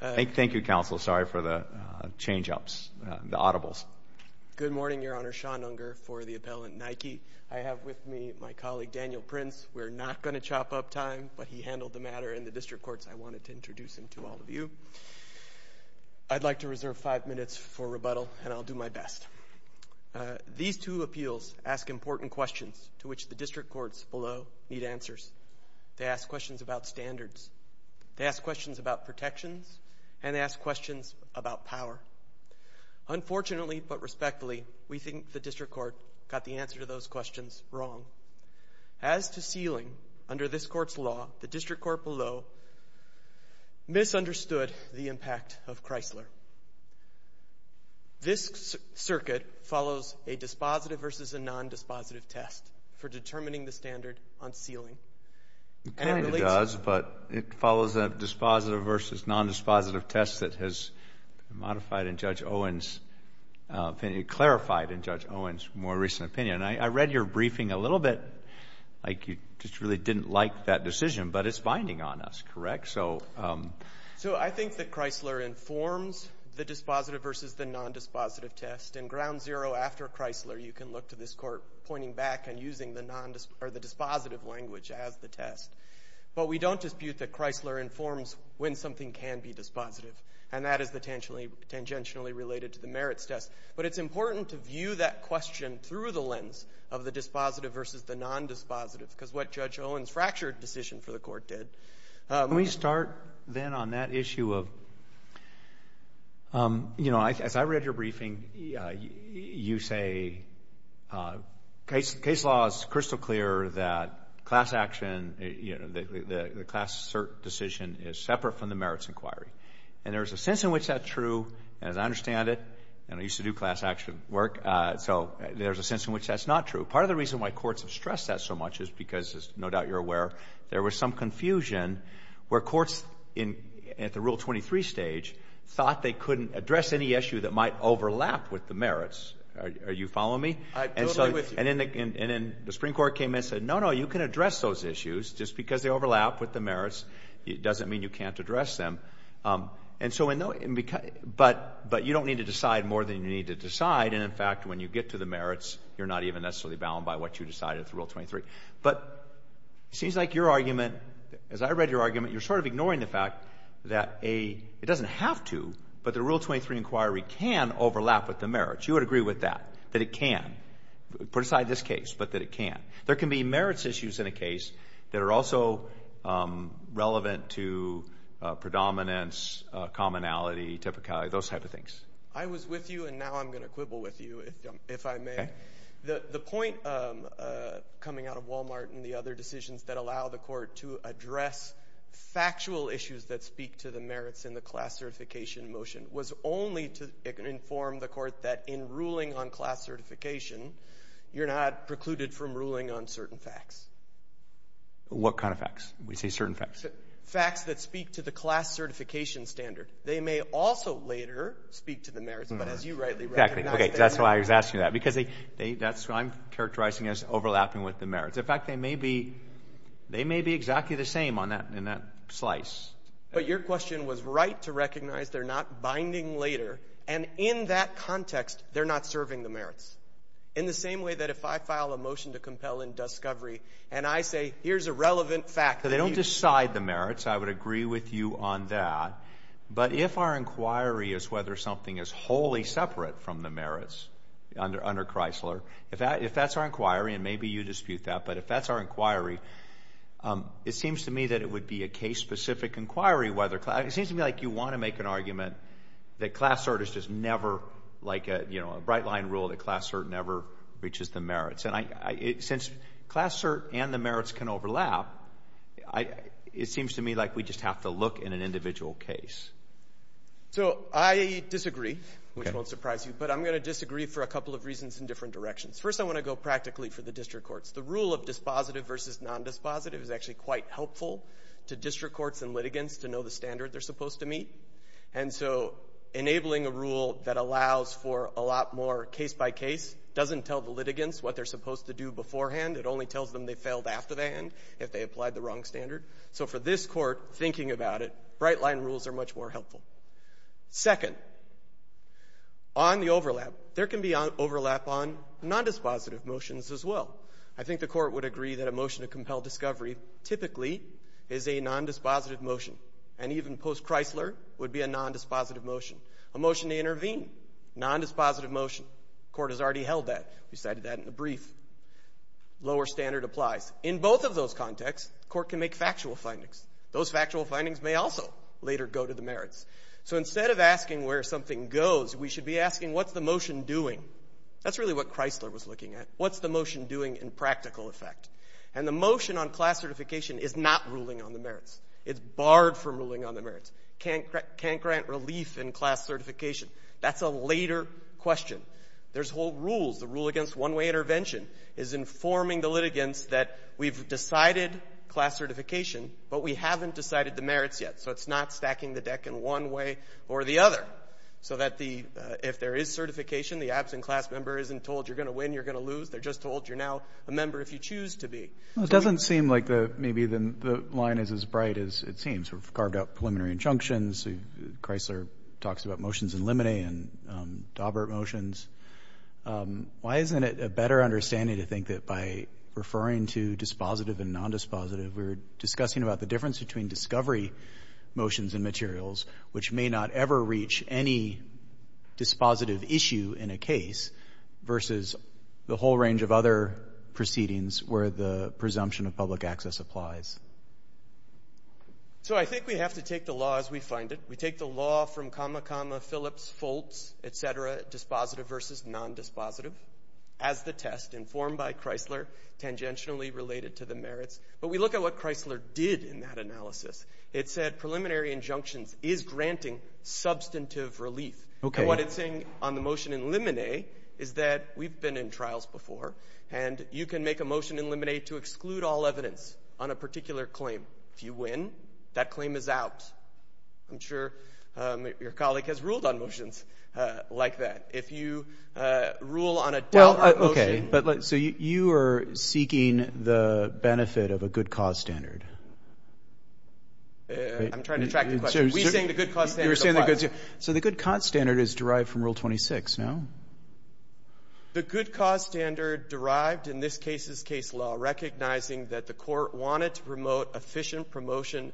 Thank you, Counsel. Sorry for the change-ups, the audibles. Good morning, Your Honor. Sean Unger for the appellant, Nike. I have with me my colleague, Daniel Prince. We're not going to chop up time, but he handled the matter in the district courts. I wanted to introduce him to all of you. I'd like to reserve five minutes for rebuttal, and I'll do my best. These two appeals ask important questions to which the district courts below need answers. They ask questions about standards. They ask questions about protections, and they ask questions about power. Unfortunately, but respectfully, we think the district court got the answer to those questions wrong. As to sealing, under this court's law, the district court below misunderstood the impact of Chrysler. This circuit follows a dispositive versus a non-dispositive test for determining the standard on sealing. The Kennedy does, but it follows a dispositive versus non-dispositive test that has been modified in Judge Owen's opinion, clarified in Judge Owen's more recent opinion. I read your briefing a little bit, like you just really didn't like that decision, but it's binding on us, correct? So I think that Chrysler informs the dispositive versus the non-dispositive test. In ground zero after Chrysler, you can look to this court pointing back and using the dispositive language as the test. But we don't dispute that Chrysler informs when something can be dispositive, and that is tangentially related to the merits test. But it's important to view that question through the lens of the dispositive versus the non-dispositive, because what Judge Owen's fractured decision for the court did. Let me start, then, on that issue of, as I read your briefing, you say case law is crystal clear that class action, the class cert decision, is separate from the merits inquiry. And there is a sense in which that's true, as I understand it, and I used to do class action work, so there's a sense in which that's not true. Part of the reason why courts have stressed that so much is because, as no doubt you're aware, there was some confusion where courts at the Rule 23 stage thought they couldn't address any issue that might overlap with the merits. Are you following me? I'm totally with you. And then the Supreme Court came in and said, no, no, you can address those issues. Just because they overlap with the merits doesn't mean you can't address them. And so, but you don't need to decide more than you need to decide. And in fact, when you get to the merits, you're not even necessarily bound by what you decided at the Rule 23. But it seems like your argument, as I read your argument, you're sort of ignoring the fact that it doesn't have to, but the Rule 23 inquiry can overlap with the merits. You would agree with that, that it can. Put aside this case, but that it can. There can be merits issues in a case that are also relevant to predominance, commonality, typicality, those type of things. I was with you and now I'm going to quibble with you, if I may. The point coming out of Walmart and the other decisions that allow the court to address factual issues that speak to the merits in the class certification motion was only to inform the court that in ruling on class certification, you're not precluded from ruling on certain facts. What kind of facts? We say certain facts. Facts that speak to the class certification standard. They may also later speak to the merits, but as you rightly recognize, they may not. That's why I was asking that, because that's what I'm characterizing as overlapping with the merits. In fact, they may be exactly the same in that slice. But your question was right to recognize they're not binding later. And in that context, they're not serving the merits. In the same way that if I file a motion to compel in discovery, and I say, here's a relevant fact. But they don't decide the merits. I would agree with you on that. But if our inquiry is whether something is wholly separate from the merits under Chrysler, if that's our inquiry, and maybe you dispute that, but if that's our inquiry, it seems to me that it would be a case-specific inquiry, whether class, it seems to me like you want to make an argument that class cert is just never, like a bright line rule, that class cert never reaches the merits. And since class cert and the merits can overlap, it seems to me like we just have to look in an individual case. So I disagree, which won't surprise you, but I'm going to disagree for a couple of reasons in different directions. First, I want to go practically for the district courts. The rule of dispositive versus non-dispositive is actually quite helpful to district courts and litigants to know the standard they're supposed to meet. And so enabling a rule that allows for a lot more case by case doesn't tell the litigants what they're supposed to do beforehand. It only tells them they failed after the end if they applied the wrong standard. So for this court, thinking about it, bright line rules are much more helpful. Second, on the overlap, there can be overlap on non-dispositive motions as well. I think the court would agree that a motion to compel discovery typically is a non-dispositive motion. And even post-Chrysler would be a non-dispositive motion. A motion to intervene, non-dispositive motion, court has already held that. We cited that in the brief. Lower standard applies. In both of those contexts, court can make factual findings. Those factual findings may also later go to the merits. So instead of asking where something goes, we should be asking what's the motion doing? That's really what Chrysler was looking at. What's the motion doing in practical effect? And the motion on class certification is not ruling on the merits. It's barred from ruling on the merits. Can't grant relief in class certification. That's a later question. There's whole rules. The rule against one-way intervention is informing the litigants that we've decided class certification, but we haven't decided the merits yet. So it's not stacking the deck in one way or the other. So that if there is certification, the absent class member isn't told you're going to win, you're going to lose. They're just told you're now a member if you choose to be. It doesn't seem like maybe the line is as bright as it seems. We've carved out preliminary injunctions. Chrysler talks about motions in limine and Daubert motions. Why isn't it a better understanding to think that by referring to dispositive and nondispositive, we're discussing about the difference between discovery motions and materials, which may not ever reach any dispositive issue in a case, versus the whole range of other proceedings where the presumption of public access applies? So I think we have to take the law as we find it. We take the law from comma, comma, Phillips, Foltz, et cetera, dispositive versus nondispositive, as the test informed by Chrysler, tangentially related to the merits. But we look at what Chrysler did in that analysis. It said preliminary injunctions is granting substantive relief. And what it's saying on the motion in limine is that we've been in trials before. And you can make a motion in limine to exclude all evidence on a particular claim. If you win, that claim is out. I'm sure your colleague has ruled on motions like that. If you rule on a Daubert motion. So you are seeking the benefit of a good cause standard. I'm trying to track the question. We're saying the good cause standard applies. The good cause standard derived in this case's case law, recognizing that the court wanted to promote efficient promotion,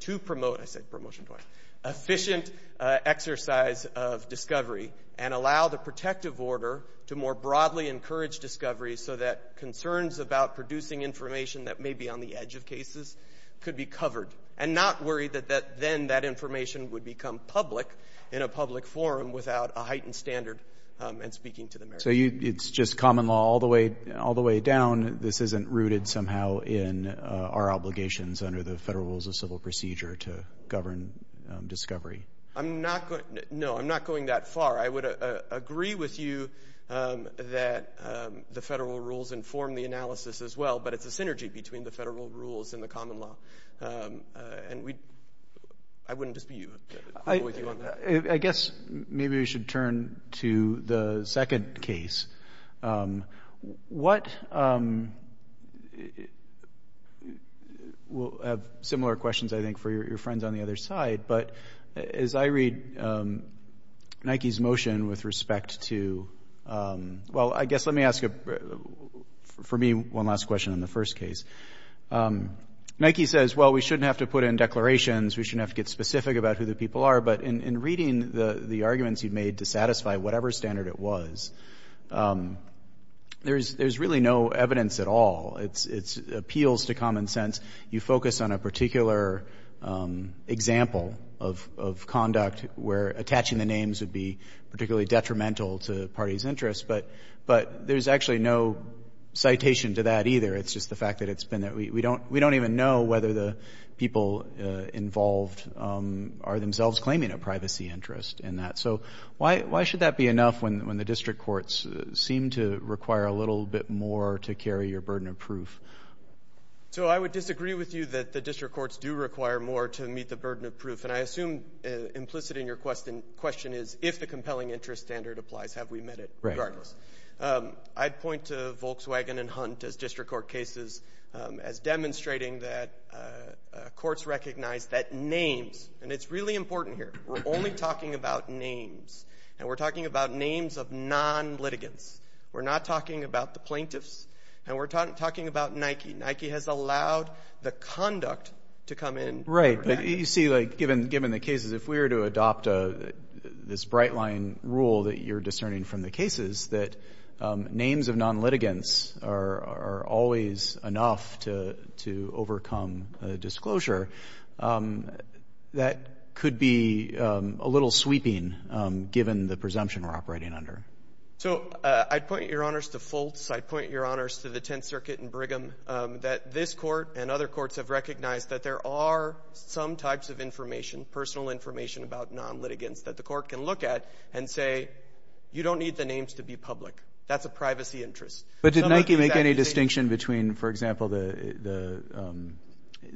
to promote, I said promotion twice, efficient exercise of discovery and allow the protective order to more broadly encourage discovery so that concerns about producing information that may be on the edge of cases could be covered. And not worry that then that information would become public in a public forum without a heightened standard and speaking to the merits. So it's just common law all the way down. This isn't rooted somehow in our obligations under the Federal Rules of Civil Procedure to govern discovery. No, I'm not going that far. I would agree with you that the federal rules inform the analysis as well. But it's a synergy between the federal rules and the common law. And I wouldn't dispute with you on that. I guess maybe we should turn to the second case. What, we'll have similar questions, I think, for your friends on the other side. But as I read Nike's motion with respect to, well, I guess let me ask, for me, one last question on the first case. Nike says, well, we shouldn't have to put in declarations. We shouldn't have to get specific about who the people are. But in reading the arguments you've made to satisfy whatever standard it was, there's really no evidence at all. It appeals to common sense. You focus on a particular example of conduct where attaching the names would be particularly detrimental to the party's interests. But there's actually no citation to that either. It's just the fact that it's been that we don't even know whether the people involved are themselves claiming a privacy interest in that. So why should that be enough when the district courts seem to require a little bit more to carry your burden of proof? So I would disagree with you that the district courts do require more to meet the burden of proof. And I assume implicit in your question is if the compelling interest standard applies, have we met it regardless. I'd point to Volkswagen and Hunt as district court cases as demonstrating that courts recognize that names, and it's really important here, we're only talking about names. And we're talking about names of non-litigants. We're not talking about the plaintiffs. And we're talking about Nike. Nike has allowed the conduct to come in. Right. You see, given the cases, if we were to adopt this bright line rule that you're discerning from the cases, that names of non-litigants are always enough to overcome disclosure, that could be a little sweeping given the presumption we're operating under. So I'd point your honors to Fultz. I'd point your honors to the Tenth Circuit in Brigham that this court and other courts have recognized that there are some types of information, personal information about non-litigants that the court can look at and say, you don't need the names to be public. That's a privacy interest. But did Nike make any distinction between, for example, the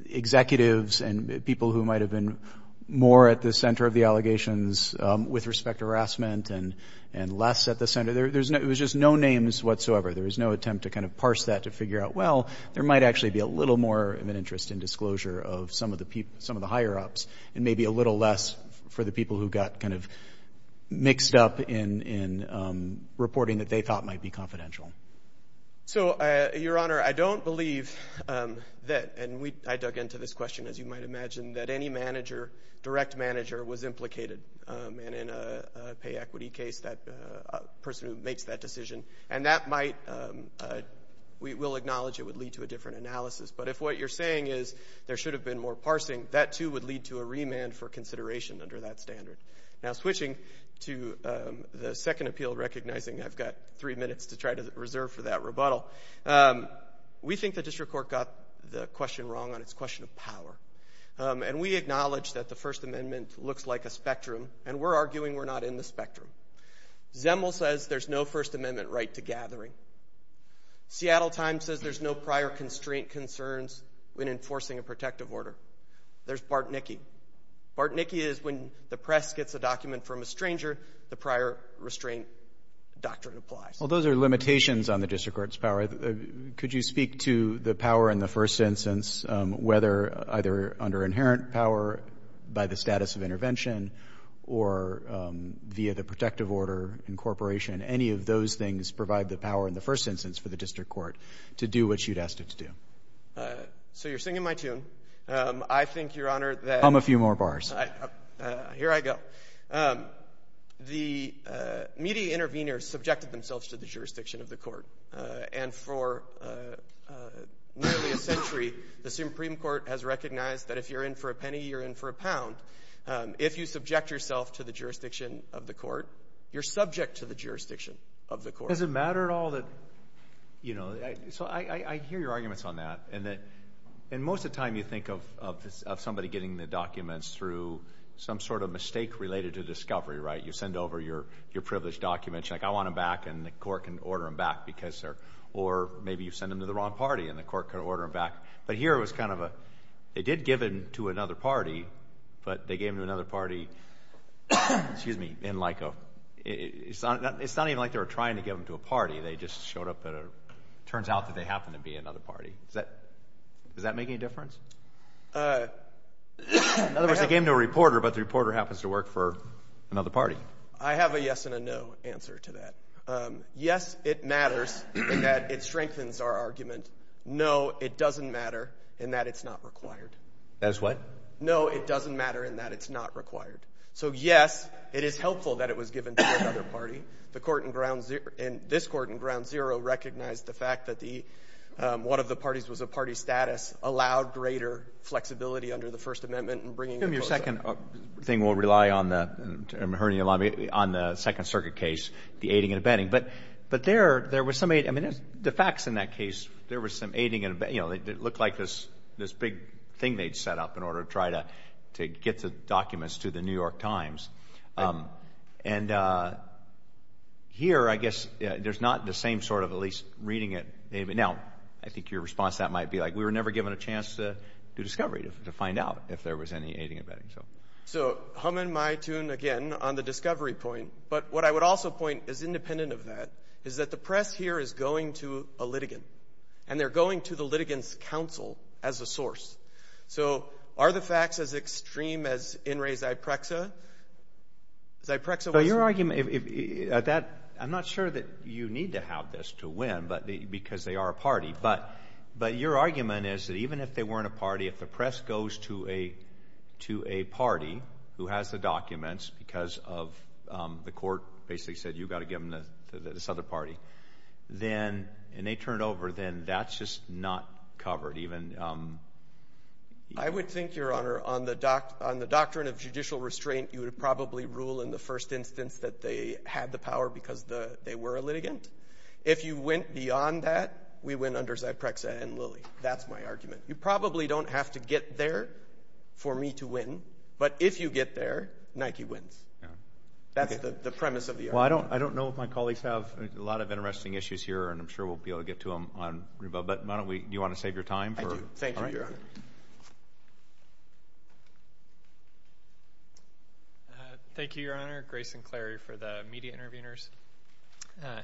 executives and people who might have been more at the center of the allegations with respect to harassment and less at the center? It was just no names whatsoever. There was no attempt to kind of parse that to figure out, well, there might actually be a little more of an interest in disclosure of some of the higher ups and maybe a little less for the people who got kind of mixed up in reporting that they thought might be confidential. So your honor, I don't believe that, and I dug into this question, as you might imagine, that any manager, direct manager was implicated. And in a pay equity case, that person who makes that decision and that might, we will acknowledge it would lead to a different analysis. But if what you're saying is there should have been more parsing, that too would lead to a remand for consideration under that standard. Now switching to the Second Appeal recognizing I've got three minutes to try to reserve for that rebuttal. We think the district court got the question wrong on its question of power. And we acknowledge that the First Amendment looks like a spectrum. And we're arguing we're not in the spectrum. Zemel says there's no First Amendment right to gathering. Seattle Times says there's no prior constraint concerns when enforcing a protective order. There's Bartnicki. Bartnicki is when the press gets a document from a stranger, the prior restraint doctrine applies. Well, those are limitations on the district court's power. Could you speak to the power in the first instance, whether either under inherent power by the status of intervention or via the protective order incorporation, any of those things provide the power in the first instance for the district court to do what you'd asked it to do? So you're singing my tune. I think Your Honor that- Come a few more bars. Here I go. The media intervenors subjected themselves to the jurisdiction of the court. And for nearly a century, the Supreme Court has recognized that if you're in for a penny, you're in for a pound. If you subject yourself to the jurisdiction of the court, you're subject to the jurisdiction of the court. Does it matter at all that, you know, so I hear your arguments on that. And most of the time you think of somebody getting the documents through some sort of mistake related to discovery, right? You send over your privileged documents, you're like, I want them back and the court can order them back because they're, or maybe you send them to the wrong party and the court could order them back. But here it was kind of a, they did give it to another party, but they gave them to another party, excuse me, in like a, it's not even like they were trying to give them to a party. They just showed up at a, turns out that they happened to be another party. Does that make any difference? In other words, they gave them to a reporter, but the reporter happens to work for another party. I have a yes and a no answer to that. Yes, it matters in that it strengthens our argument. No, it doesn't matter in that it's not required. That is what? No, it doesn't matter in that it's not required. So yes, it is helpful that it was given to another party. The court in ground zero, in this court in ground zero recognized the fact that the, one of the parties was a party status, allowed greater flexibility under the First Amendment and bringing the courts up. I think we'll rely on the, I'm hearing a lot of, on the Second Circuit case, the aiding and abetting, but there was some, I mean, the facts in that case, there was some aiding and abetting, you know, it looked like this big thing they'd set up in order to try to get the documents to the New York Times. And here, I guess, there's not the same sort of, at least reading it. Now, I think your response to that might be like, we were never given a chance to do discovery, to find out if there was any aiding and abetting, so. So, humming my tune again on the discovery point, but what I would also point is independent of that, is that the press here is going to a litigant, and they're going to the litigant's counsel as a source. So, are the facts as extreme as In re Zyprexa? Zyprexa was- But your argument, if that, I'm not sure that you need to have this to win, but because they are a party, but your argument is that even if they weren't a party, if the press goes to a party who has the documents because of the court basically said, you've got to give them to this other party, then, and they turn it over, then that's just not covered, even- I would think, your honor, on the doctrine of judicial restraint, you would probably rule in the first instance that they had the power because they were a litigant. If you went beyond that, we win under Zyprexa and Lilly. That's my argument. You probably don't have to get there for me to win, but if you get there, Nike wins. That's the premise of the argument. Well, I don't know if my colleagues have a lot of interesting issues here, and I'm sure we'll be able to get to them on Reba, but why don't we, do you want to save your time for- I do, thank you, your honor. Thank you, your honor, Grace and Clary for the media interveners.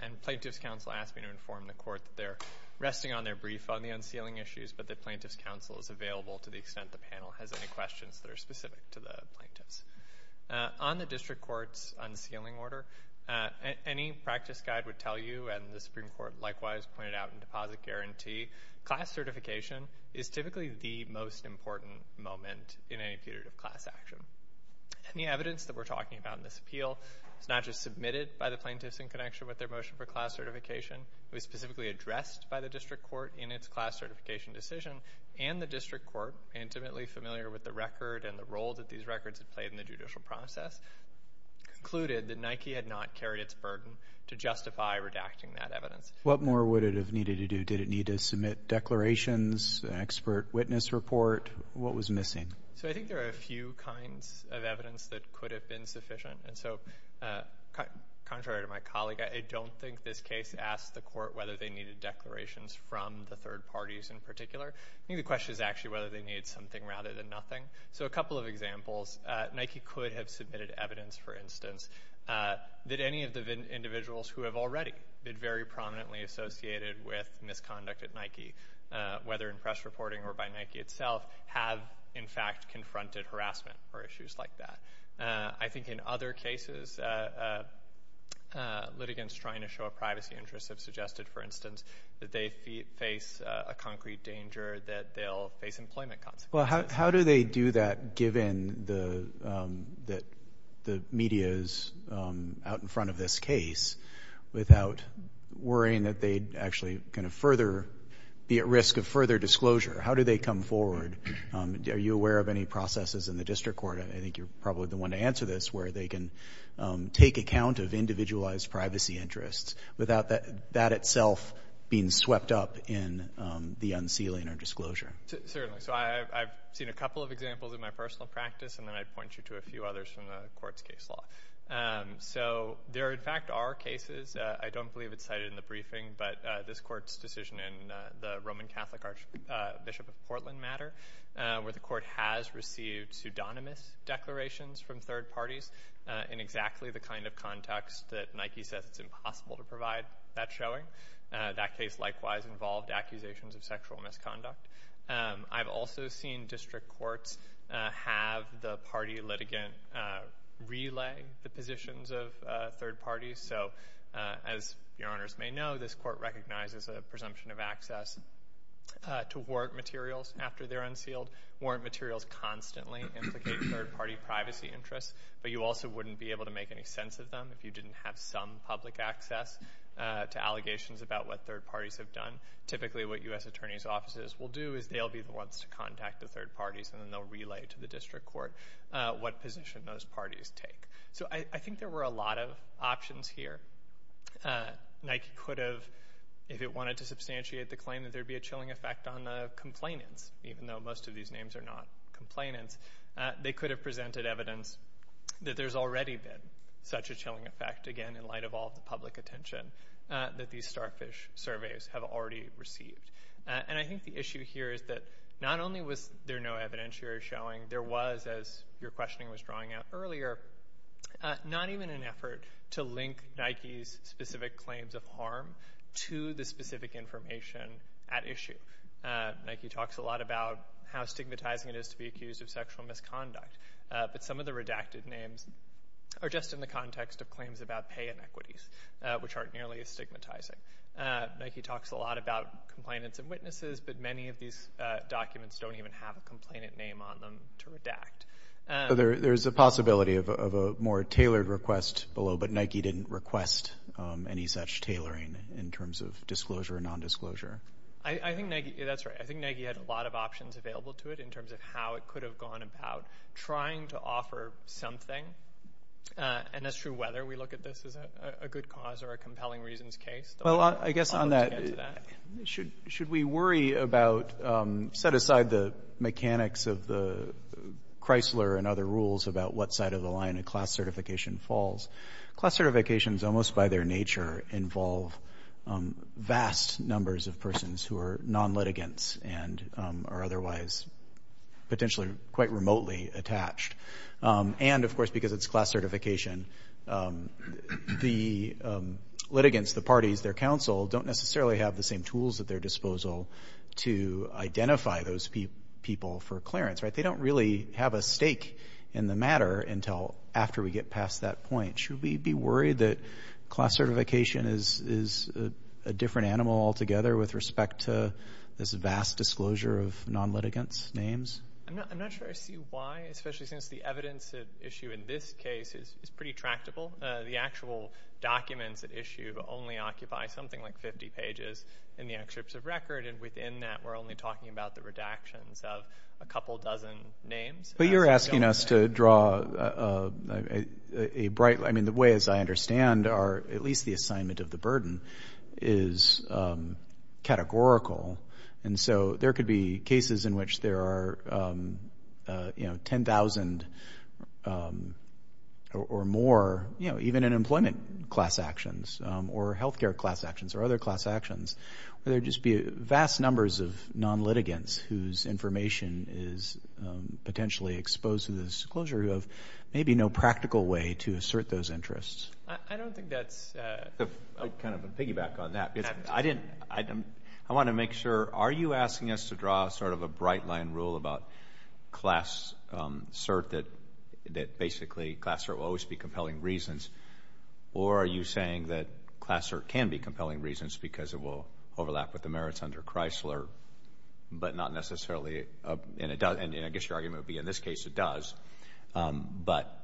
And plaintiff's counsel asked me to inform the court that they're resting on their brief on the unsealing issues, but that plaintiff's counsel is available to the extent the panel has any questions that are specific to the plaintiffs. On the district court's unsealing order, any practice guide would tell you, and the Supreme Court likewise pointed out in deposit guarantee, class certification is typically the most important moment in any period of class action. And the evidence that we're talking about in this appeal is not just submitted by the plaintiffs in connection with their motion for class certification. It was specifically addressed by the district court in its class certification decision, and the district court, intimately familiar with the record and the role that these records had played in the judicial process, concluded that Nike had not carried its burden to justify redacting that evidence. What more would it have needed to do? Did it need to submit declarations, an expert witness report? What was missing? So I think there are a few kinds of evidence that could have been sufficient. And so contrary to my colleague, I don't think this case asked the court whether they needed declarations from the third parties in particular. I think the question is actually whether they need something rather than nothing. So a couple of examples, Nike could have submitted evidence, for instance, that any of the individuals who have already been very prominently associated with misconduct at Nike, whether in press reporting or by Nike itself, have in fact confronted harassment or issues like that. I think in other cases, litigants trying to show a privacy interest have suggested, for instance, that they face a concrete danger that they'll face employment consequences. Well, how do they do that, given that the media's out in front of this case without worrying that they'd actually kind of further be at risk of further disclosure? How do they come forward? Are you aware of any processes in the district court, and I think you're probably the one to answer this, where they can take account of individualized privacy interests without that itself being swept up in the unsealing or disclosure? Certainly. So I've seen a couple of examples in my personal practice, and then I'd point you to a few others from the court's case law. So there in fact are cases, I don't believe it's cited in the briefing, but this court's decision in the Roman Catholic Archbishop of Portland matter, where the court has received pseudonymous declarations from third parties in exactly the kind of context that Nike says it's impossible to provide that showing. That case likewise involved accusations of sexual misconduct. I've also seen district courts have the party litigant relay the positions of third parties. So as your honors may know, this court recognizes a presumption of access to warrant materials after they're unsealed. Warrant materials constantly implicate third party privacy interests, but you also wouldn't be able to make any sense of them if you didn't have some public access to allegations about what third parties have done. Typically what U.S. attorney's offices will do is they'll be the ones to contact the third parties, and then they'll relay to the district court what position those parties take. So I think there were a lot of options here. Nike could have, if it wanted to substantiate the claim that there'd be a chilling effect on the complainants, even though most of these names are not complainants, they could have presented evidence that there's already been such a chilling effect, again, in light of all the public attention that these starfish surveys have already received. And I think the issue here is that not only was there no evidence here showing, there was, as your questioning was drawing out earlier, not even an effort to link Nike's specific claims of harm to the specific information at issue. Nike talks a lot about how stigmatizing it is to be accused of sexual misconduct, but some of the redacted names are just in the context of claims about pay inequities, which aren't nearly as stigmatizing. Nike talks a lot about complainants and witnesses, but many of these documents don't even have a complainant name on them to redact. There's a possibility of a more tailored request below, but Nike didn't request any such tailoring in terms of disclosure or nondisclosure. I think Nike, that's right, I think Nike had a lot of options available to it in terms of how it could have gone about trying to offer something. And that's true whether we look at this as a good cause or a compelling reasons case. Though I guess on that, should we worry about, set aside the mechanics of the Chrysler and other rules about what side of the line a class certification falls? Class certifications, almost by their nature, involve vast numbers of persons who are non-litigants and are otherwise potentially quite remotely attached. And of course, because it's class certification, the litigants, the parties, their counsel, don't necessarily have the same tools at their disposal to identify those people for clearance, right? They don't really have a stake in the matter until after we get past that point. Should we be worried that class certification is a different animal altogether with respect to this vast disclosure of non-litigants' names? I'm not sure I see why, especially since the evidence at issue in this case is pretty tractable. The actual documents at issue only occupy something like 50 pages in the excerpts of record. And within that, we're only talking about the redactions of a couple dozen names. But you're asking us to draw a bright, I mean, the way, as I understand, or at least the assignment of the burden is categorical. And so there could be cases in which there are 10,000 or more, even in employment class actions or healthcare class actions or other class actions, where there'd just be vast numbers of non-litigants whose information is potentially exposed to the disclosure who have maybe no practical way to assert those interests. I don't think that's a... Kind of a piggyback on that. I didn't, I want to make sure, are you asking us to draw sort of a bright line rule about class cert that basically, class cert will always be compelling reasons? Or are you saying that class cert can be compelling reasons because it will overlap with the merits under Chrysler, but not necessarily, and I guess your argument would be in this case, it does. But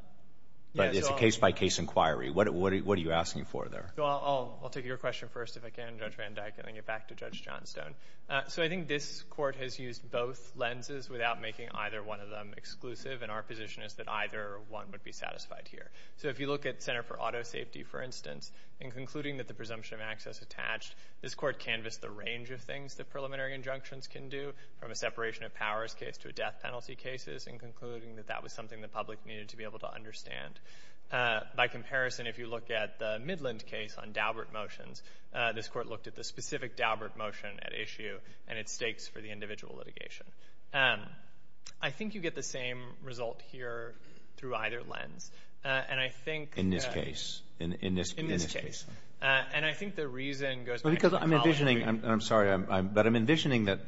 it's a case-by-case inquiry. What are you asking for there? Well, I'll take your question first, if I can, Judge Van Dyke, and then get back to Judge Johnstone. So I think this court has used both lenses without making either one of them exclusive, and our position is that either one would be satisfied here. So if you look at Center for Auto Safety, for instance, in concluding that the presumption of access attached, this court canvassed the range of things that preliminary injunctions can do, from a separation of powers case to a death penalty cases, in concluding that that was something the public needed to be able to understand. By comparison, if you look at the Midland case on Daubert motions, this court looked at the specific Daubert motion at issue, and its stakes for the individual litigation. I think you get the same result here through either lens. And I think- In this case. In this case. And I think the reason goes back to the following. I'm sorry, but I'm envisioning that,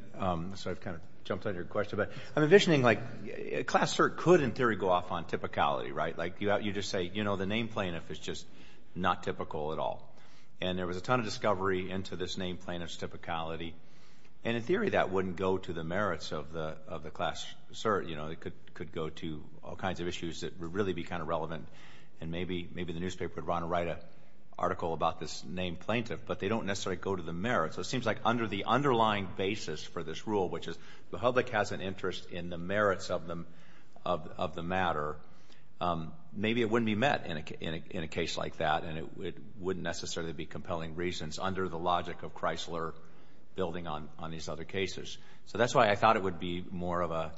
so I've kind of jumped on your question, but I'm envisioning like class cert could, in theory, go off on typicality, right? You just say, you know, the name plaintiff is just not typical at all. And there was a ton of discovery into this name plaintiff's typicality. And in theory, that wouldn't go to the merits of the class cert, you know, it could go to all kinds of issues that would really be kind of relevant. And maybe the newspaper would want to write an article about this name plaintiff, but they don't necessarily go to the merits. So it seems like under the underlying basis for this rule, which is the public has an interest in the merits of the matter, maybe it wouldn't be met in a case like that. And it wouldn't necessarily be compelling reasons under the logic of Chrysler building on these other cases. So that's why I thought it would be more of a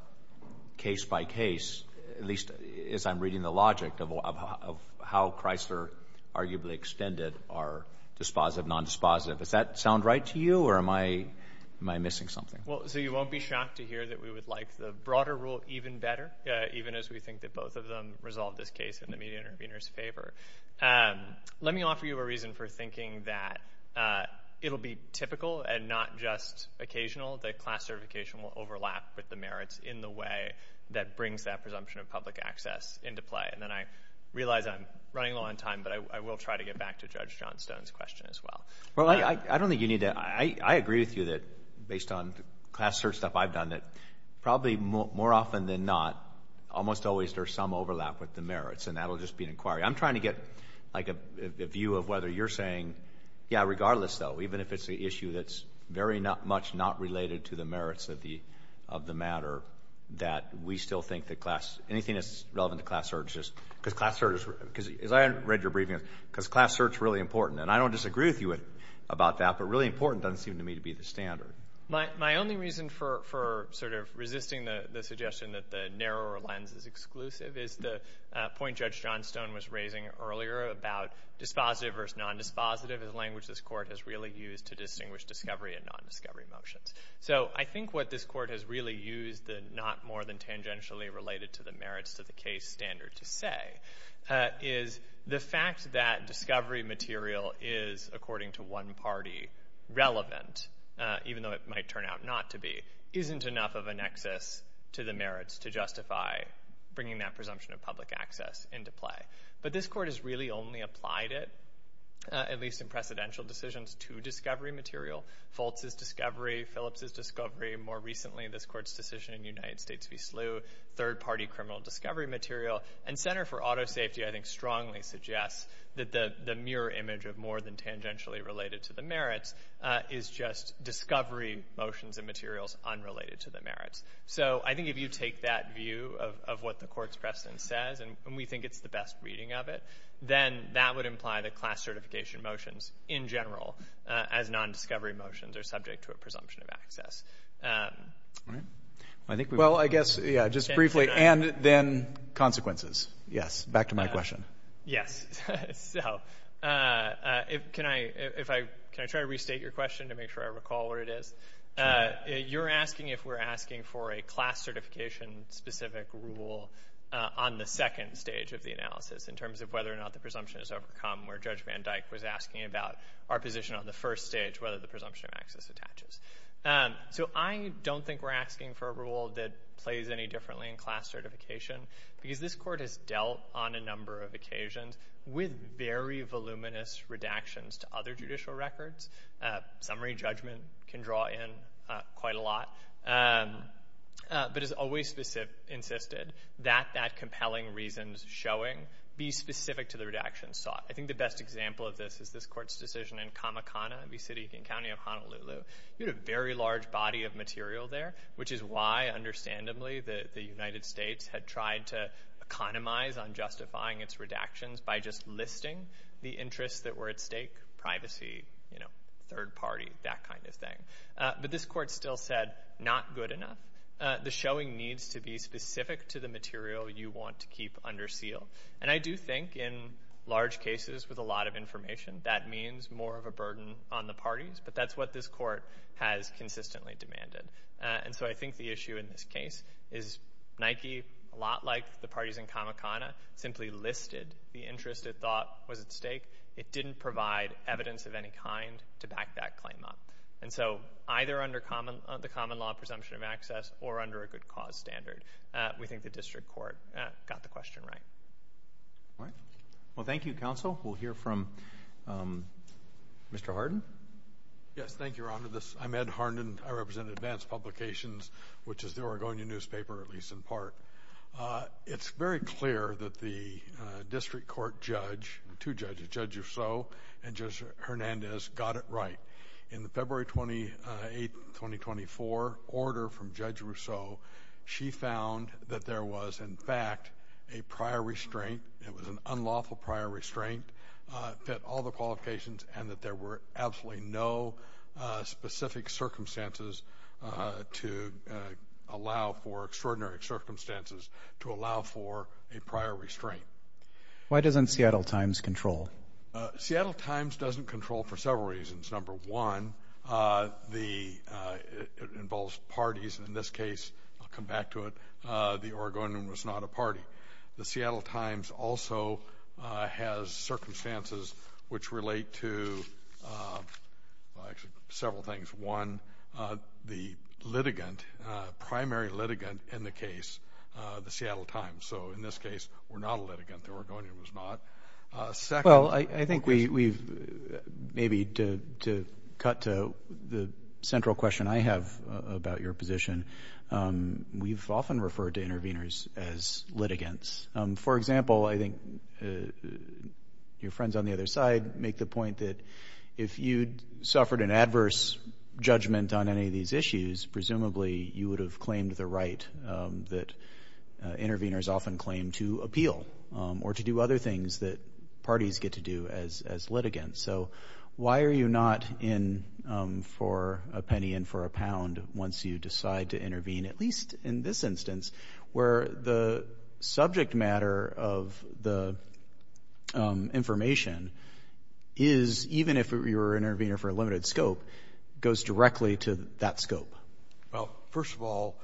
case by case, at least as I'm reading the logic of how Chrysler arguably extended our dispositive, nondispositive. Does that sound right to you, or am I missing something? Well, so you won't be shocked to hear that we would like the broader rule even better, even as we think that both of them resolve this case in the media intervener's favor. Let me offer you a reason for thinking that it'll be typical and not just occasional, that class certification will overlap with the merits in the way that brings that presumption of public access into play. And then I realize I'm running low on time, but I will try to get back to Judge Johnstone's question as well. Well, I don't think you need to, I agree with you that based on class search stuff I've done that probably more often than not, almost always there's some overlap with the merits, and that'll just be an inquiry. I'm trying to get a view of whether you're saying, yeah, regardless though, even if it's an issue that's very much not related to the merits of the matter, that we still think that class, anything that's relevant to class search is, because class search, as I read your briefing, because class search is really important, and I don't disagree with you about that, but really important doesn't seem to me to be the standard. My only reason for sort of resisting the suggestion that the narrower lens is exclusive is the point Judge Johnstone was raising earlier about dispositive versus non-dispositive is a language this court has really used to distinguish discovery and non-discovery motions. So I think what this court has really used that not more than tangentially related to the merits to the case standard to say is the fact that discovery material is according to one party relevant, even though it might turn out not to be, isn't enough of a nexus to the merits to justify bringing that presumption of public access into play. But this court has really only applied it, at least in precedential decisions, to discovery material. Foltz's discovery, Phillips's discovery, more recently this court's decision in United States v. SLU, third party criminal discovery material, and Center for Auto Safety I think strongly suggests that the mirror image of more than tangentially related to the merits is just discovery motions and materials unrelated to the merits. So I think if you take that view of what the court's precedent says, and we think it's the best reading of it, then that would imply that class certification motions in general as non-discovery motions are subject to a presumption of access. I think we've- Well, I guess, yeah, just briefly, and then consequences. Yes, back to my question. Yes, so, can I try to restate your question to make sure I recall what it is? You're asking if we're asking for a class certification specific rule on the second stage of the analysis in terms of whether or not the presumption is overcome, where Judge Van Dyck was asking about our position on the first stage, whether the presumption of access attaches. So I don't think we're asking for a rule that plays any differently in class certification, because this court has dealt on a number of occasions with very voluminous redactions to other judicial records. Summary judgment can draw in quite a lot, but has always insisted that that compelling reasons showing be specific to the redactions sought. I think the best example of this is this court's decision in Kamakana, the city and county of Honolulu. You had a very large body of material there, which is why, understandably, the United States had tried to economize on justifying its redactions by just listing the interests that were at stake, privacy, third party, that kind of thing. But this court still said, not good enough. The showing needs to be specific to the material you want to keep under seal. And I do think, in large cases with a lot of information, that means more of a burden on the parties, but that's what this court has consistently demanded. And so, I think the issue in this case is Nike, a lot like the parties in Kamakana, simply listed the interest it thought was at stake. It didn't provide evidence of any kind to back that claim up and so, either under the common law presumption of access or under a good cause standard, we think the district court got the question right. All right. Well, thank you, counsel. We'll hear from Mr. Hardin. Yes, thank you, Your Honor. I'm Ed Hardin. I represent Advanced Publications, which is the Oregonian newspaper, at least in part. It's very clear that the district court judge, two judges, Judge Rousseau and Judge Hernandez, got it right. In the February 28, 2024 order from Judge Rousseau, she found that there was, in fact, a prior restraint. It was an unlawful prior restraint, fit all the qualifications, and that there were absolutely no specific circumstances to allow for extraordinary circumstances to allow for a prior restraint. Why doesn't Seattle Times control? Seattle Times doesn't control for several reasons. Number one, it involves parties. In this case, I'll come back to it, the Oregonian was not a party. The Seattle Times also has circumstances which relate to several things. One, the litigant, primary litigant in the case, the Seattle Times. So in this case, we're not a litigant. The Oregonian was not. Second, I think we've, maybe to cut to the central question I have about your position, we've often referred to interveners as litigants. For example, I think your friends on the other side make the point that if you'd suffered an adverse judgment on any of these issues, presumably you would have claimed the right that interveners often claim to appeal or to do other things that parties get to do as litigants. So why are you not in for a penny and for a pound once you decide to intervene, at least in this instance, where the subject matter of the information is even if you're an intervener for a limited scope, goes directly to that scope? Well, first of all,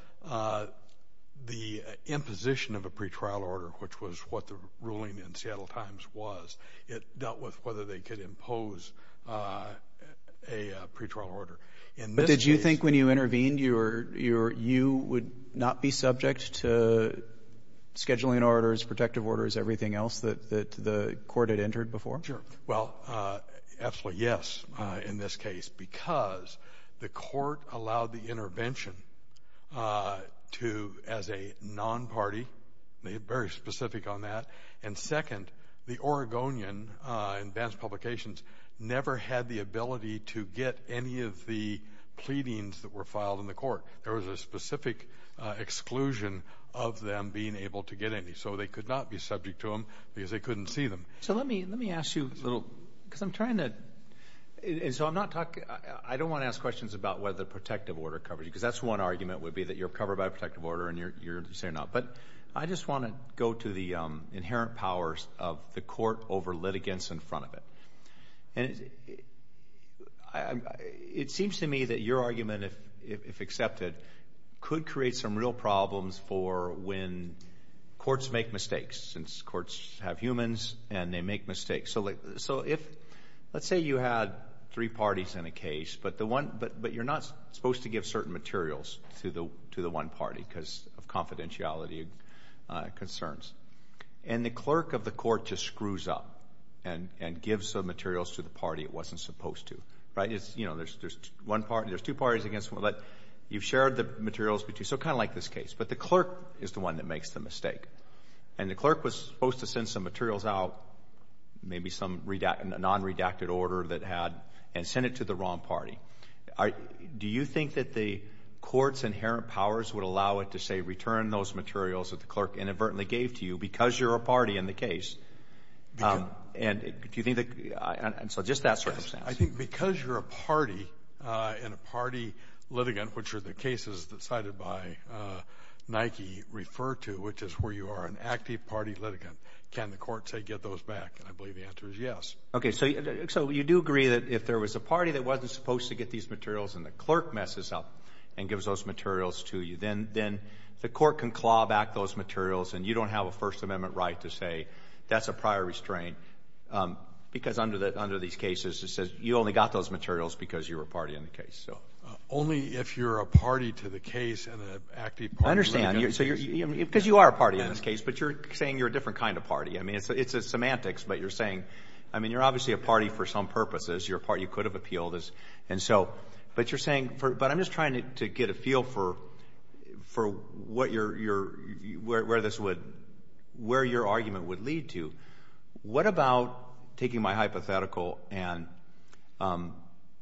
the imposition of a pretrial order, which was what the ruling in Seattle Times was, it dealt with whether they could impose a pretrial order. In this case- But did you think when you intervened, you would not be subject to scheduling orders, protective orders, everything else that the court had entered before? Sure. Well, absolutely yes, in this case, because the court allowed the intervention to, as a non-party, they're very specific on that, and second, the Oregonian advance publications never had the ability to get any of the pleadings that were filed in the court. There was a specific exclusion of them being able to get any, so they could not be subject to them because they couldn't see them. So let me ask you a little, because I'm trying to, and so I'm not talking, I don't want to ask questions about whether a protective order covered you, because that's one argument would be that you're covered by a protective order and you're saying no, but I just want to go to the inherent powers of the court over litigants in front of it. And it seems to me that your argument, if accepted, could create some real problems for when courts make mistakes, since courts have humans and they make mistakes. So if, let's say you had three parties in a case, but you're not supposed to give certain materials to the one party, because of confidentiality concerns, and the clerk of the court just screws up and gives the materials to the party it wasn't supposed to, right? You know, there's one party, there's two parties against one, but you've shared the materials between, so kind of like this case, but the clerk is the one that makes the mistake. And the clerk was supposed to send some materials out, maybe some non-redacted order that had, and send it to the wrong party. Do you think that the court's inherent powers would allow it to say, return those materials that the clerk inadvertently gave to you because you're a party in the case? And do you think that, and so just that circumstance. I think because you're a party, and a party litigant, which are the cases that cited by Nike refer to, which is where you are an active party litigant, can the court say get those back? And I believe the answer is yes. Okay, so you do agree that if there was a party that wasn't supposed to get these materials and the clerk messes up and gives those materials to you, then the court can claw back those materials and you don't have a First Amendment right to say that's a prior restraint. Because under these cases it says you only got those materials because you were a party in the case, so. Only if you're a party to the case and an active party litigant. I understand, because you are a party in this case, but you're saying you're a different kind of party. I mean, it's semantics, but you're saying, I mean, you're obviously a party for some purposes. You're a party who could have appealed. And so, but you're saying, but I'm just trying to get a feel for for what your, where this would, where your argument would lead to. What about taking my hypothetical and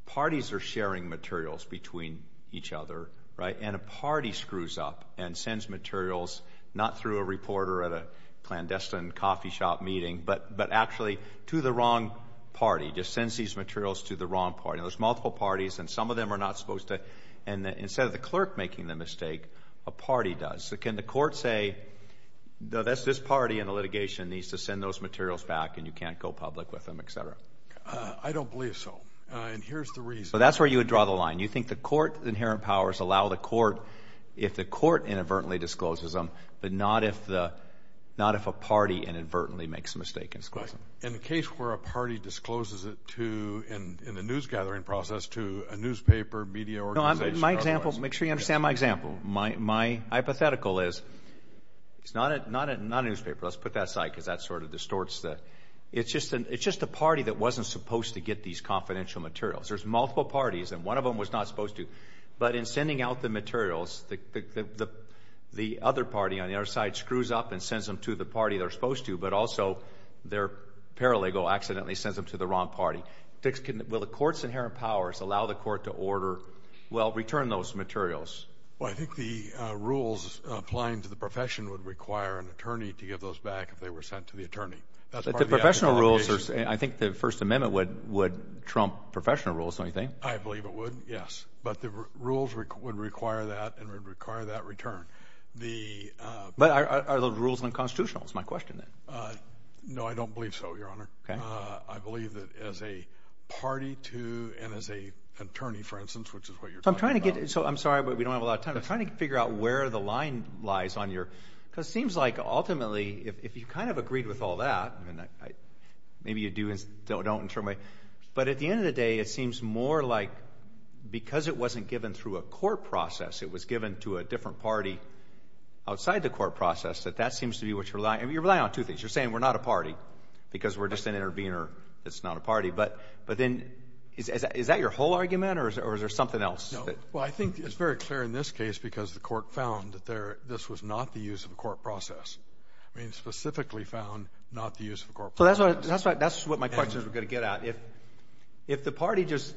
parties are sharing materials between each other, right? And a party screws up and sends materials, not through a reporter at a clandestine coffee shop meeting, but actually to the wrong party, just sends these materials to the wrong party. And there's multiple parties and some of them are not supposed to, and that instead of the clerk making the mistake, a party does. So can the court say, no, that's this party in the litigation needs to send those materials back and you can't go public with them, et cetera? I don't believe so. And here's the reason. So that's where you would draw the line. You think the court, the inherent powers allow the court, if the court inadvertently discloses them, but not if the, not if a party inadvertently makes a mistake in disclosing. In the case where a party discloses it to, in the news gathering process to a newspaper, media organization. No, my example, make sure you understand my example. My hypothetical is, it's not a newspaper, let's put that aside, because that sort of distorts the, it's just a party that wasn't supposed to get these confidential materials. There's multiple parties and one of them was not supposed to, but in sending out the materials, the other party on the other side screws up and sends them to the party they're supposed to, but also their paralegal accidentally sends them to the wrong party. Will the court's inherent powers allow the court to order, well, return those materials? Well, I think the rules applying to the profession would require an attorney to give those back if they were sent to the attorney. That's part of the act of interrogation. But the professional rules are, I think the First Amendment would trump professional rules, don't you think? I believe it would, yes. But the rules would require that and would require that return. But are those rules unconstitutional, is my question then. No, I don't believe so, Your Honor. I believe that as a party to, and as an attorney, for instance, which is what you're talking about. So I'm trying to get, so I'm sorry, but we don't have a lot of time. I'm trying to figure out where the line lies on your, because it seems like ultimately, if you kind of agreed with all that, maybe you do and don't in a certain way, but at the end of the day, it seems more like because it wasn't given through a court process, it was given to a different party outside the court process, that that seems to be what you're relying, I mean, you're relying on two things. You're saying we're not a party because we're just an intervener. It's not a party. But then, is that your whole argument or is there something else? Well, I think it's very clear in this case because the court found that there, this was not the use of a court process. I mean, it specifically found not the use of a court process. So that's what my question is we're gonna get at. If the party just,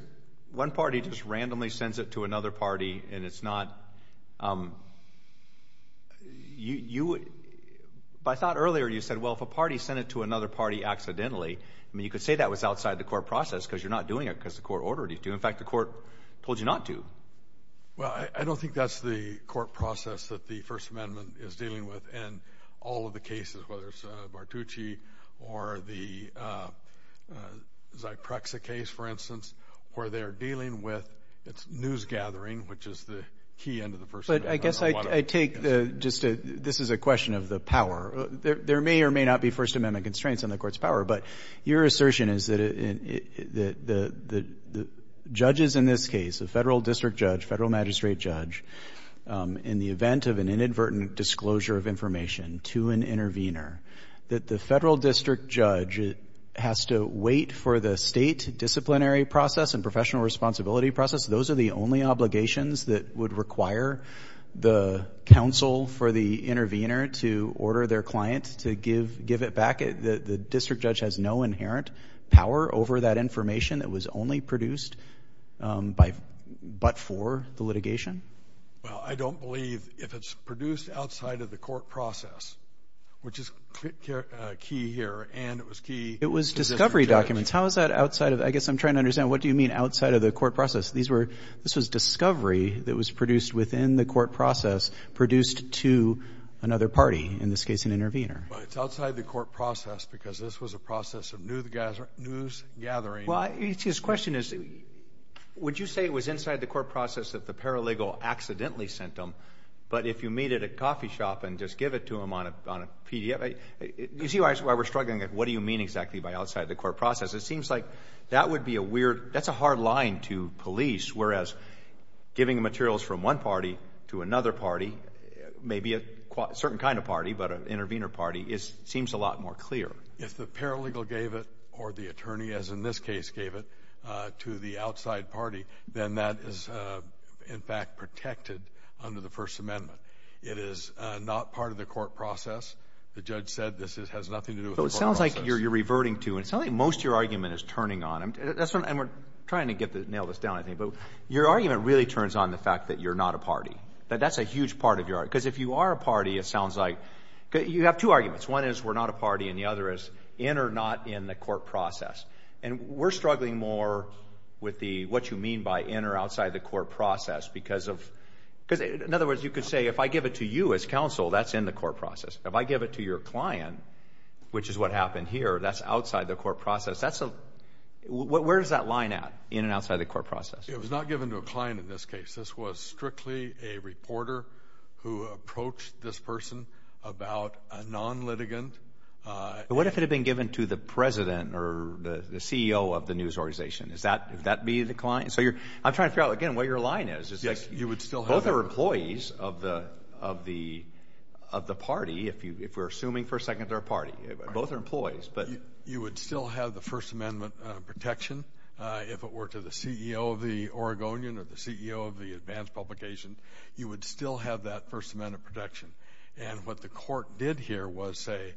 one party just randomly sends it to another party and it's not, but I thought earlier you said, well, if a party sent it to another party accidentally, I mean, you could say that was outside the court process because you're not doing it because the court ordered you to. In fact, the court told you not to. Well, I don't think that's the court process that the First Amendment is dealing with and all of the cases, whether it's Martucci or the Zyprexa case, for instance, where they're dealing with, it's news gathering, which is the key end of the First Amendment. But I guess I take the, just this is a question of the power. There may or may not be First Amendment constraints on the court's power, but your assertion is that the judges in this case, a federal district judge, federal magistrate judge, in the event of an inadvertent disclosure of information to an intervener, that the federal district judge has to wait for the state disciplinary process and professional responsibility process. Those are the only obligations that would require the counsel for the intervener to order their client to give it back. The district judge has no inherent power over that information. It was only produced by, but for the litigation. Well, I don't believe if it's produced outside of the court process, which is key here and it was key. It was discovery documents. How is that outside of, I guess I'm trying to understand what do you mean outside of the court process? These were, this was discovery that was produced within the court process, produced to another party, in this case, an intervener. Well, it's outside the court process because this was a process of news gathering. Well, his question is, would you say it was inside the court process that the paralegal accidentally sent them, but if you meet at a coffee shop and just give it to them on a PDF, you see why we're struggling, what do you mean exactly by outside the court process? It seems like that would be a weird, that's a hard line to police, whereas giving materials from one party to another party, maybe a certain kind of party, but an intervener party, it seems a lot more clear. If the paralegal gave it, or the attorney, as in this case, gave it, to the outside party, then that is, in fact, protected under the First Amendment. It is not part of the court process. The judge said this has nothing to do with the court process. So it sounds like you're reverting to, and it sounds like most of your argument is turning on, and we're trying to nail this down, I think, but your argument really turns on the fact that you're not a party, that that's a huge part of your argument. Because if you are a party, it sounds like, you have two arguments. One is we're not a party, and the other is in or not in the court process. And we're struggling more with what you mean by in or outside the court process because of, because in other words, you could say, if I give it to you as counsel, that's in the court process. If I give it to your client, which is what happened here, that's outside the court process. Where is that line at, in and outside the court process? It was not given to a client in this case. This was strictly a reporter who approached this person about a non-litigant. What if it had been given to the president or the CEO of the news organization? Would that be the client? So I'm trying to figure out, again, what your line is. Is that both are employees of the party, if we're assuming for a second they're a party. Both are employees. You would still have the First Amendment protection if it were to the CEO of the Oregonian or the CEO of the advanced publication. You would still have that First Amendment protection. And what the court did here was say,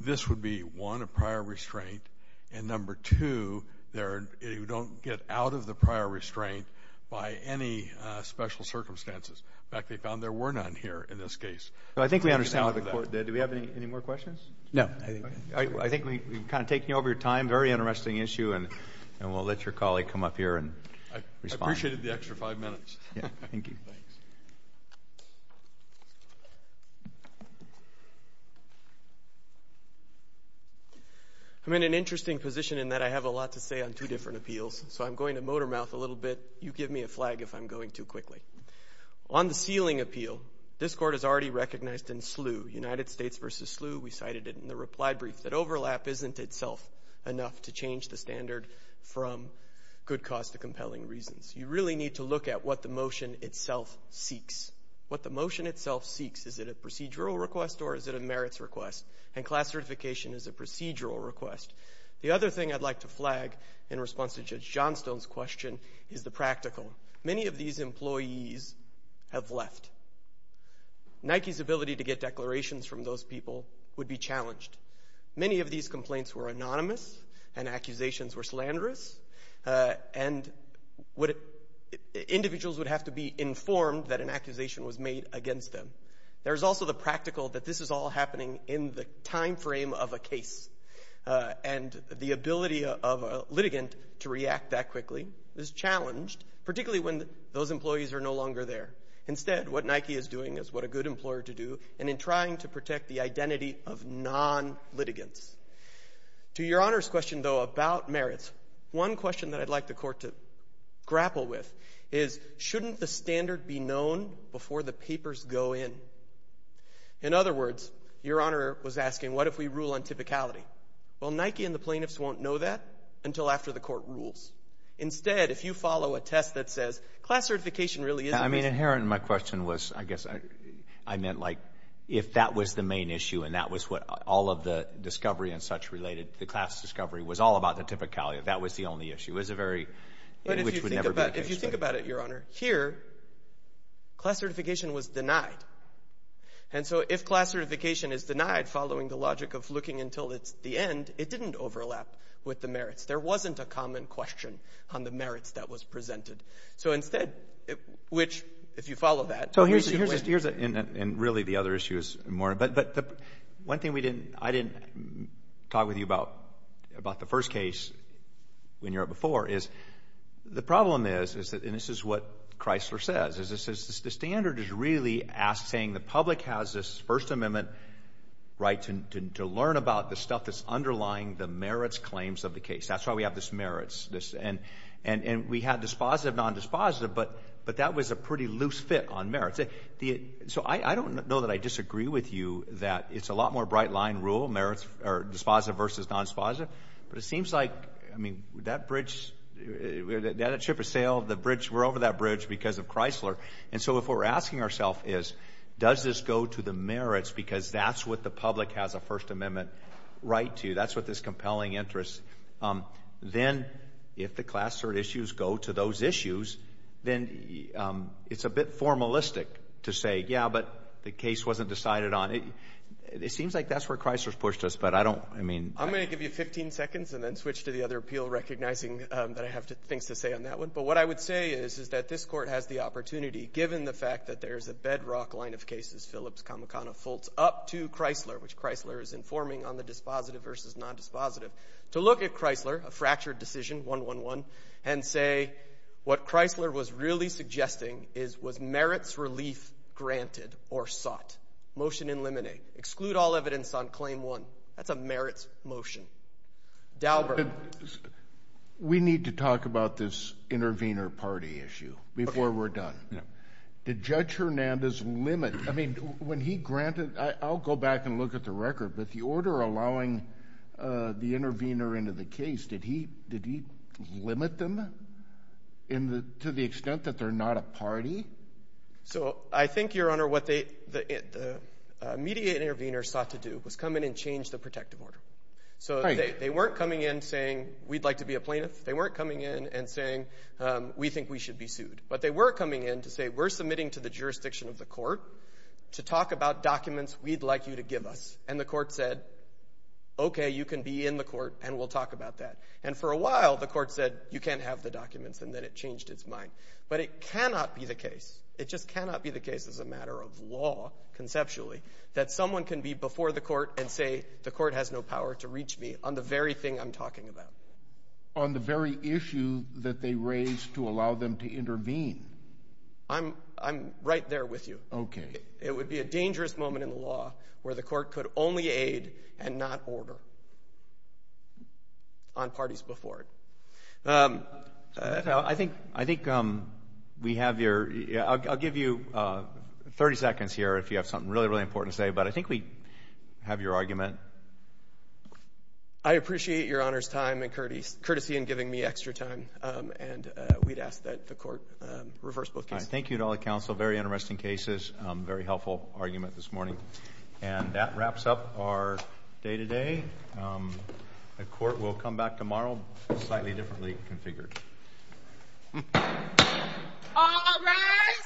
this would be, one, a prior restraint, and number two, you don't get out of the prior restraint by any special circumstances. In fact, they found there were none here in this case. So I think we understand what the court did. Do we have any more questions? No. I think we've kind of taken over your time. Very interesting issue, and we'll let your colleague come up here and respond. I appreciated the extra five minutes. Yeah, thank you. I'm in an interesting position in that I have a lot to say on two different appeals. So I'm going to motor mouth a little bit. You give me a flag if I'm going too quickly. On the sealing appeal, this court has already recognized in SLU, United States versus SLU. We cited it in the reply brief that overlap isn't itself enough to change the standard from good cause to compelling reasons. You really need to look at what the motion itself seeks. What the motion itself seeks, is it a procedural request or is it a merits request? And class certification is a procedural request. The other thing I'd like to flag in response to Judge Johnstone's question is the practical. Many of these employees have left. Nike's ability to get declarations from those people would be challenged. Many of these complaints were anonymous and accusations were slanderous. And individuals would have to be informed that an accusation was made against them. There's also the practical that this is all happening in the timeframe of a case. And the ability of a litigant to react that quickly is challenged, particularly when those employees are no longer there. Instead, what Nike is doing is what a good employer to do and in trying to protect the identity of non-litigants. To Your Honor's question though about merits, one question that I'd like the court to grapple with is shouldn't the standard be known before the papers go in? In other words, Your Honor was asking, what if we rule on typicality? Well, Nike and the plaintiffs won't know that until after the court rules. Instead, if you follow a test that says, class certification really is- Inherent in my question was, I guess I meant like, if that was the main issue and that was what all of the discovery and such related, the class discovery was all about the typicality of that was the only issue. It was a very, which would never be the case. If you think about it, Your Honor, here, class certification was denied. And so if class certification is denied following the logic of looking until it's the end, it didn't overlap with the merits. There wasn't a common question on the merits that was presented. So instead, which if you follow that- So here's, and really the other issue is more, but one thing we didn't, I didn't talk with you about the first case when you were up before is, the problem is, and this is what Chrysler says, is the standard is really asking, the public has this First Amendment right to learn about the stuff that's underlying the merits claims of the case. That's why we have this merits. And we had dispositive, non-dispositive, but that was a pretty loose fit on merits. So I don't know that I disagree with you that it's a lot more bright line rule, merits or dispositive versus non-dispositive, but it seems like, I mean, that bridge, that ship has sailed, the bridge, we're over that bridge because of Chrysler. And so if what we're asking ourself is, does this go to the merits? Because that's what the public has a First Amendment right to, that's what this compelling interest. Then if the class third issues go to those issues, then it's a bit formalistic to say, yeah, but the case wasn't decided on. It seems like that's where Chrysler's pushed us, but I don't, I mean. I'm gonna give you 15 seconds and then switch to the other appeal recognizing that I have things to say on that one. But what I would say is, is that this court has the opportunity, given the fact that there's a bedrock line of cases, Phillips, Kamikana, Fultz, up to Chrysler, which Chrysler is informing on the dispositive versus non-dispositive, to look at Chrysler, a fractured decision, 1-1-1, and say what Chrysler was really suggesting is was merits relief granted or sought? Motion in limine. Exclude all evidence on claim one. That's a merits motion. Dalbert. We need to talk about this intervener party issue before we're done. Did Judge Hernandez limit, I mean, when he granted, I'll go back and look at the record, but the order allowing the intervener into the case, did he limit them to the extent that they're not a party? So I think, Your Honor, what the immediate intervener sought to do was come in and change the protective order. So they weren't coming in saying, we'd like to be a plaintiff. They weren't coming in and saying, we think we should be sued. But they were coming in to say, we're submitting to the jurisdiction of the court to talk about documents we'd like you to give us. And the court said, okay, you can be in the court and we'll talk about that. And for a while, the court said, you can't have the documents, and then it changed its mind. But it cannot be the case. It just cannot be the case as a matter of law, conceptually, that someone can be before the court and say, the court has no power to reach me on the very thing I'm talking about. On the very issue that they raised to allow them to intervene. I'm right there with you. Okay. It would be a dangerous moment in the law where the court could only aid and not order on parties before it. I think we have your, I'll give you 30 seconds here if you have something really, really important to say, but I think we have your argument. I appreciate your honor's time and courtesy in giving me extra time. And we'd ask that the court reverse both cases. Thank you to all the counsel. Very interesting cases. Very helpful argument this morning. And that wraps up our day-to-day. The court will come back tomorrow slightly differently configured. All rise.